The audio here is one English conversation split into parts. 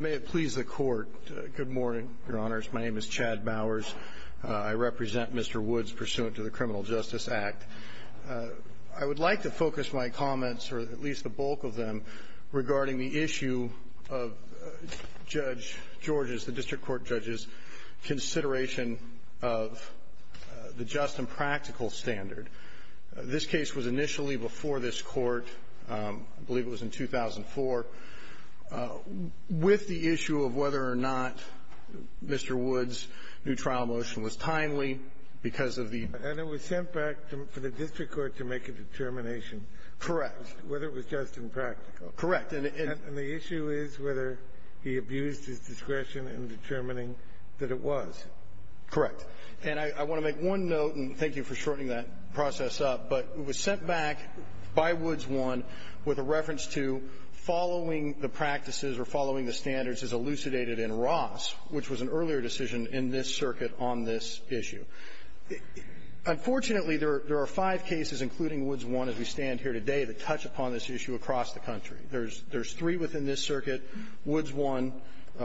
May it please the Court. Good morning, Your Honors. My name is Chad Bowers. I represent Mr. Woods pursuant to the Criminal Justice Act. I would like to focus my comments, or at least the bulk of them, regarding the issue of Judge George's, the District Court Judge's, consideration of the just and practical standard. And this case was initially before this Court, I believe it was in 2004, with the issue of whether or not Mr. Woods' new trial motion was timely because of the — And it was sent back for the District Court to make a determination. Correct. Whether it was just and practical. Correct. And the issue is whether he abused his discretion in determining that it was. Correct. And I want to make one note, and thank you for shortening that process up, but it was sent back by Woods I with a reference to following the practices or following the standards as elucidated in Ross, which was an earlier decision in this circuit on this issue. Unfortunately, there are five cases, including Woods I as we stand here today, that touch upon this issue across the country. There's three within this circuit, Woods I,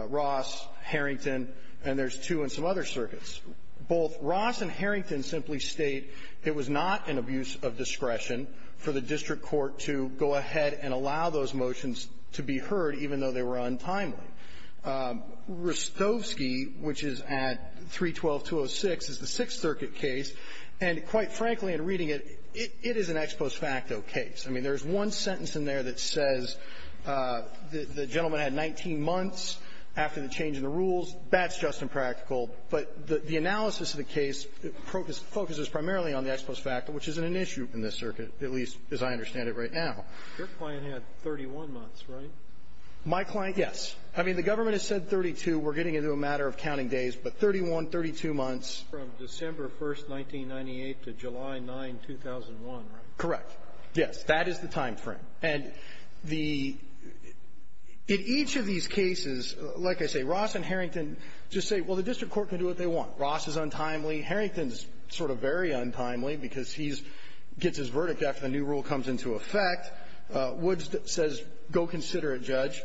Ross, Harrington, and there's two in some other circuits. Both Ross and Harrington simply state it was not an abuse of discretion for the District Court to go ahead and allow those motions to be heard, even though they were untimely. Rostovsky, which is at 312-206, is the Sixth Circuit case. And quite frankly, in reading it, it is an ex post facto case. I mean, there's one sentence in there that says the gentleman had 19 months after the change in the rules. That's just impractical. But the analysis of the case focuses primarily on the ex post facto, which isn't an issue in this circuit, at least as I understand it right now. Your client had 31 months, right? My client, yes. I mean, the government has said 32. We're getting into a matter of counting days, but 31, 32 months. From December 1st, 1998 to July 9, 2001, right? Correct. Yes. That is the time frame. And the – in each of these cases, like I say, Ross and Harrington just say, well, the District Court can do what they want. Ross is untimely. Harrington is sort of very untimely because he's – gets his verdict after the new rule comes into effect. Woods says go consider it, Judge.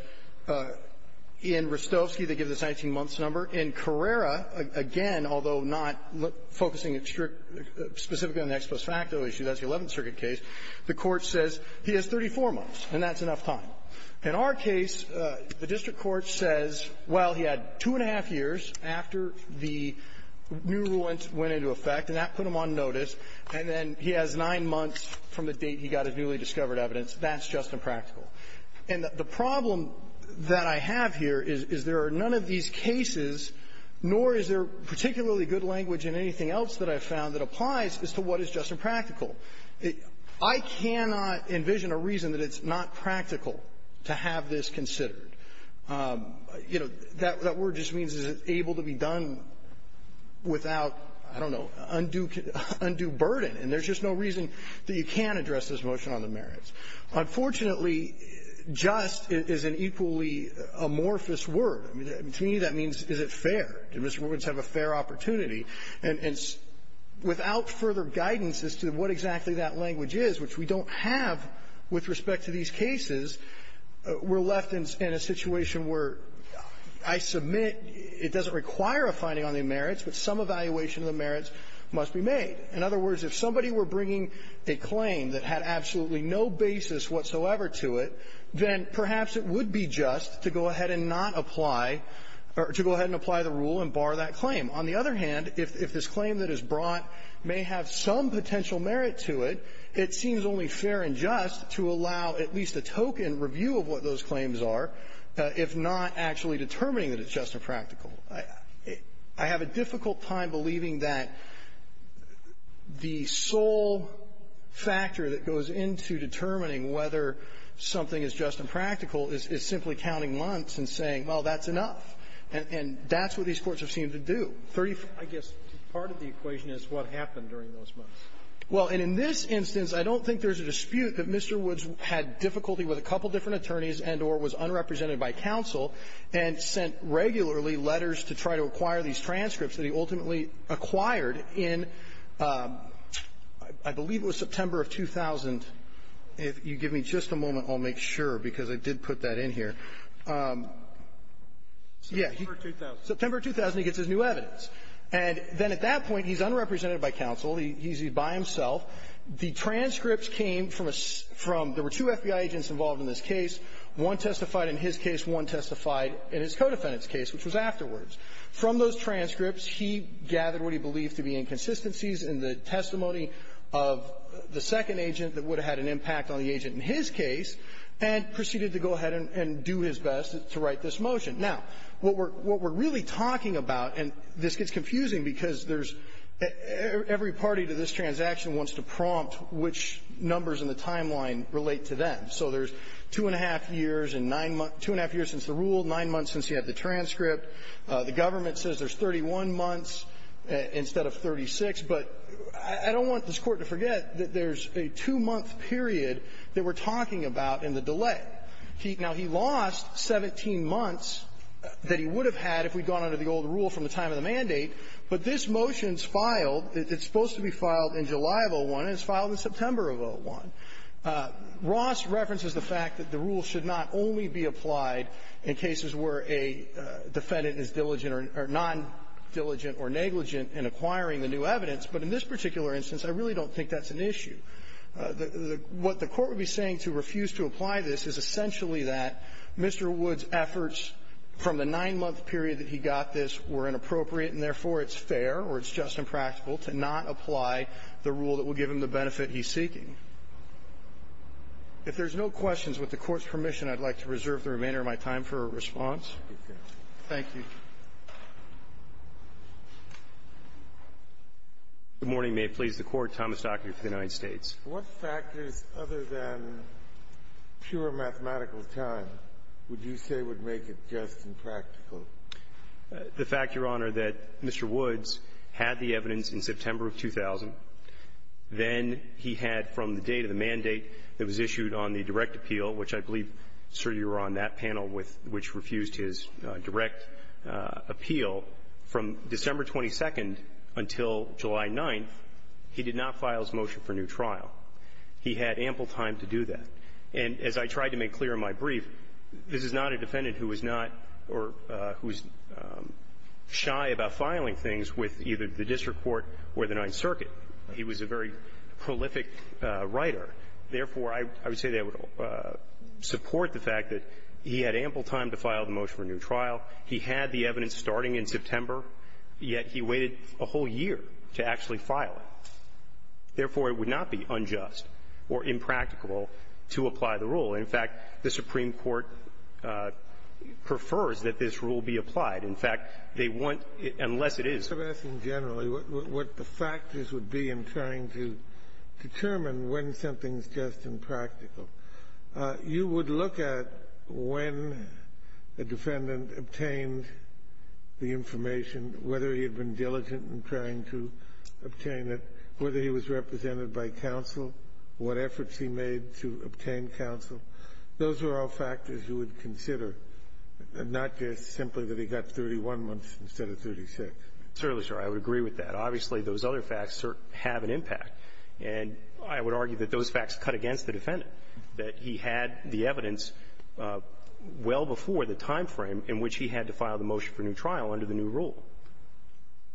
In Rostovsky, they give this 19-months number. In Carrera, again, although not focusing strictly – specifically on the ex post facto issue, that's the Eleventh Circuit case, the Court says he has 34 months, and that's enough time. In our case, the District Court says, well, he had two-and-a-half years after the new rule went – went into effect, and that put him on notice, and then he has nine months from the date he got his newly discovered evidence. That's just impractical. And the problem that I have here is there are none of these cases, nor is there particularly good language in anything else that I've found that applies as to what is just and practical. I cannot envision a reason that it's not practical to have this considered. You know, that word just means is it able to be done without, I don't know, undue – undue burden, and there's just no reason that you can address this motion on the merits. Unfortunately, just is an equally amorphous word. I mean, to me, that means is it fair? Do Mr. Woods have a fair opportunity? And it's – without further guidance as to what exactly that language is, which we don't have with respect to these cases, we're left in a situation where I submit it doesn't require a finding on the merits, but some evaluation of the merits must be made. In other words, if somebody were bringing a claim that had absolutely no basis whatsoever to it, then perhaps it would be just to go ahead and not apply – to go on the other hand, if this claim that is brought may have some potential merit to it, it seems only fair and just to allow at least a token review of what those claims are, if not actually determining that it's just and practical. I have a difficult time believing that the sole factor that goes into determining whether something is just and practical is simply counting months and saying, well, that's enough. And that's what these courts have seemed to do. I guess part of the equation is what happened during those months. Well, and in this instance, I don't think there's a dispute that Mr. Woods had difficulty with a couple different attorneys and or was unrepresented by counsel and sent regularly letters to try to acquire these transcripts that he ultimately acquired in, I believe it was September of 2000. If you give me just a moment, I'll make sure, because I did put that in here. Yeah. September of 2000. September of 2000, he gets his new evidence. And then at that point, he's unrepresented by counsel. He's by himself. The transcripts came from a – there were two FBI agents involved in this case. One testified in his case. One testified in his co-defendant's case, which was afterwards. From those transcripts, he gathered what he believed to be inconsistencies in the testimony of the second agent that would have had an impact on the agent in his case and proceeded to go ahead and do his best to write this motion. Now, what we're – what we're really talking about, and this gets confusing because there's – every party to this transaction wants to prompt which numbers in the timeline relate to them. So there's two-and-a-half years and nine – two-and-a-half years since the rule, nine months since he had the transcript. The government says there's 31 months instead of 36. But I don't want this Court to forget that there's a two-month period that we're talking about in the delay. He – now, he lost 17 months that he would have had if we'd gone under the old rule from the time of the mandate, but this motion's filed. It's supposed to be filed in July of 2001, and it's filed in September of 2001. Ross references the fact that the rule should not only be applied in cases where a defendant is diligent or – or non-diligent or negligent in acquiring the new evidence, but in this particular instance, I really don't think that's an issue. The – what the Court would be saying to refuse to apply this is essentially that Mr. Wood's efforts from the nine-month period that he got this were inappropriate, and therefore, it's fair or it's just impractical to not apply the rule that will give him the benefit he's seeking. If there's no questions, with the Court's permission, I'd like to reserve the remainder of my time for a response. Thank you. Good morning. Good morning. May it please the Court. Thomas Dockery for the United States. What factors, other than pure mathematical time, would you say would make it just impractical? The fact, Your Honor, that Mr. Woods had the evidence in September of 2000. Then he had from the date of the mandate that was issued on the direct appeal, which I believe, sir, you were on that panel with, which refused his direct appeal. From December 22nd until July 9th, he did not file his motion for new trial. He had ample time to do that. And as I tried to make clear in my brief, this is not a defendant who was not or who's shy about filing things with either the district court or the Ninth Circuit. He was a very prolific writer. Therefore, I would say that would support the fact that he had ample time to file the motion for new trial. He had the evidence starting in September, yet he waited a whole year to actually file it. Therefore, it would not be unjust or impractical to apply the rule. In fact, the Supreme Court prefers that this rule be applied. In fact, they want unless it is. So I'm asking generally what the factors would be in trying to determine when something's just impractical. You would look at when a defendant obtained the information, whether he had been diligent in trying to obtain it, whether he was represented by counsel, what efforts he made to obtain counsel. Those are all factors you would consider, not just simply that he got 31 months instead of 36. Certainly, sir. I would agree with that. Obviously, those other facts have an impact. And I would argue that those facts cut against the defendant, that he had the evidence well before the time frame in which he had to file the motion for new trial under the new rule.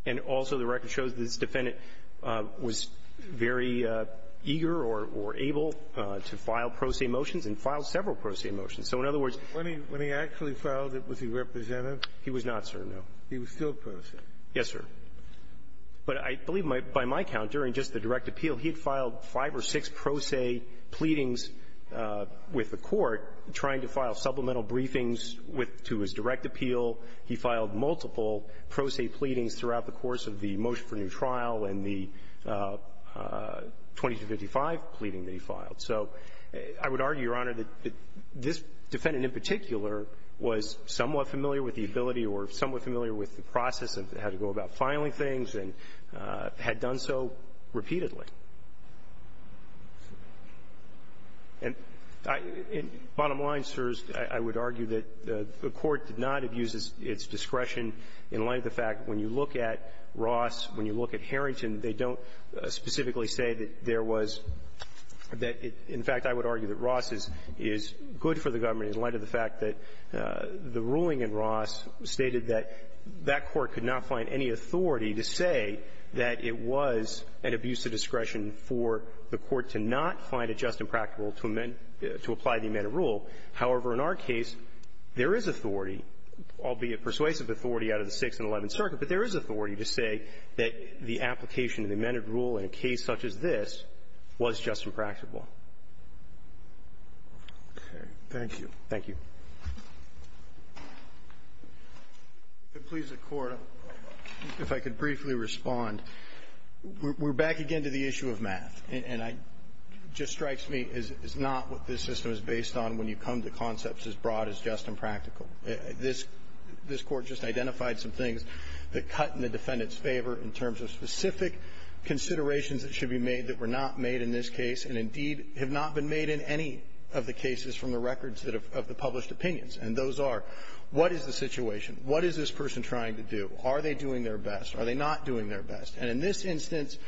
And also, the record shows this defendant was very eager or able to file pro se motions and filed several pro se motions. So in other words… When he actually filed it, was he represented? He was not, sir, no. He was still pro se. Yes, sir. But I believe, by my count, during just the direct appeal, he had filed five or six pro se pleadings with the Court, trying to file supplemental briefings with… to his direct appeal. He filed multiple pro se pleadings throughout the course of the motion for new trial and the 2255 pleading that he filed. So I would argue, Your Honor, that this defendant in particular was somewhat familiar with the ability or somewhat familiar with the process of how to go about filing things and had done so repeatedly. And I… bottom line, sirs, I would argue that the Court did not abuse its discretion in light of the fact when you look at Ross, when you look at Harrington, they don't specifically say that there was… that it… in fact, I would argue that Ross is good for the government in light of the fact that the ruling in Ross stated that that Court could not find any authority to say that it was an abuse of discretion for the Court to not find it just impractical to amend… to apply the amended rule. However, in our case, there is authority, albeit persuasive authority, out of the Sixth and Eleventh Circuit, but there is authority to say that the application of the amended rule in a case such as this was just impractical. Okay. Thank you. Thank you. If you could please the Court, if I could briefly respond. We're back again to the issue of math. And I… it just strikes me as not what this system is based on when you come to concepts as broad as just impractical. This… this Court just identified some things that cut in the defendant's favor in terms of specific considerations that should be made that were not made in this case and, indeed, have not been made in any of the cases from the records of the published opinions. And those are, what is the situation? What is this person trying to do? Are they doing their best? Are they not doing their best? And in this instance,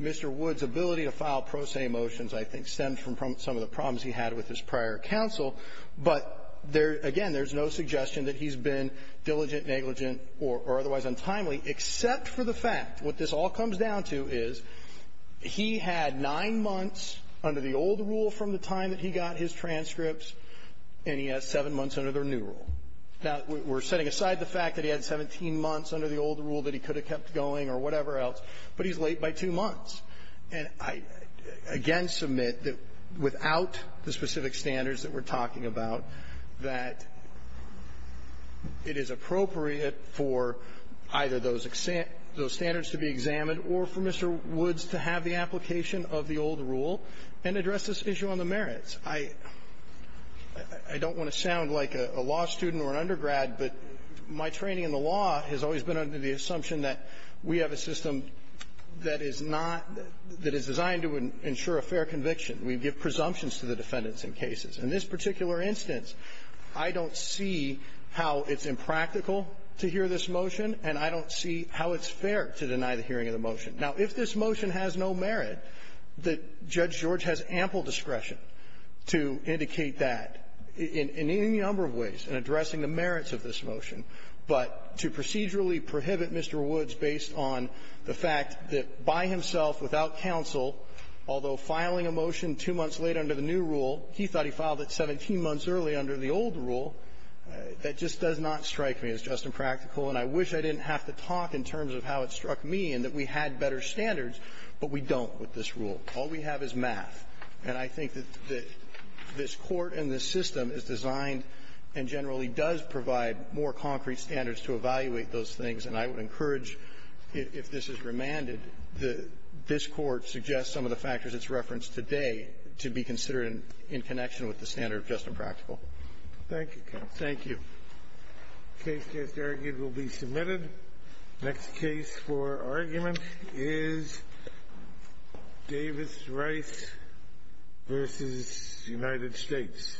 Mr. Wood's ability to file pro se motions, I think, stemmed from some of the problems he had with his prior counsel. But there… again, there's no suggestion that he's been diligent, negligent, or otherwise untimely, except for the fact, what this all comes down to is he had 9 months under the old rule from the time that he got his transcripts, and he has 7 months under the new rule. Now, we're setting aside the fact that he had 17 months under the old rule that he could have kept going or whatever else, but he's late by 2 months. And I, again, submit that without the specific standards that we're talking about, that it is appropriate for either those standards to be examined or for Mr. Wood's to have the application of the old rule and address this issue on the merits. I don't want to sound like a law student or an undergrad, but my training in the law has always been under the assumption that we have a system that is not… that is designed to ensure a fair conviction. We give presumptions to the defendants in cases. In this particular instance, I don't see how it's impractical to hear this motion, and I don't see how it's fair to deny the hearing of the motion. Now, if this motion has no merit, Judge George has ample discretion to indicate that in any number of ways in addressing the merits of this motion, but to procedurally prohibit Mr. Woods based on the fact that by himself, without counsel, although filing a motion 2 months late under the new rule, he thought he filed it 17 months early under the old rule, that just does not strike me as just impractical. And I wish I didn't have to talk in terms of how it struck me, and that we had better standards, but we don't with this rule. All we have is math. And I think that this Court and this system is designed and generally does provide more concrete standards to evaluate those things. And I would encourage, if this is remanded, that this Court suggests some of the factors it's referenced today to be considered in connection with the standard of just impractical. Thank you, counsel. Thank you. Case just argued will be submitted. Next case for argument is Davis Rice versus United States.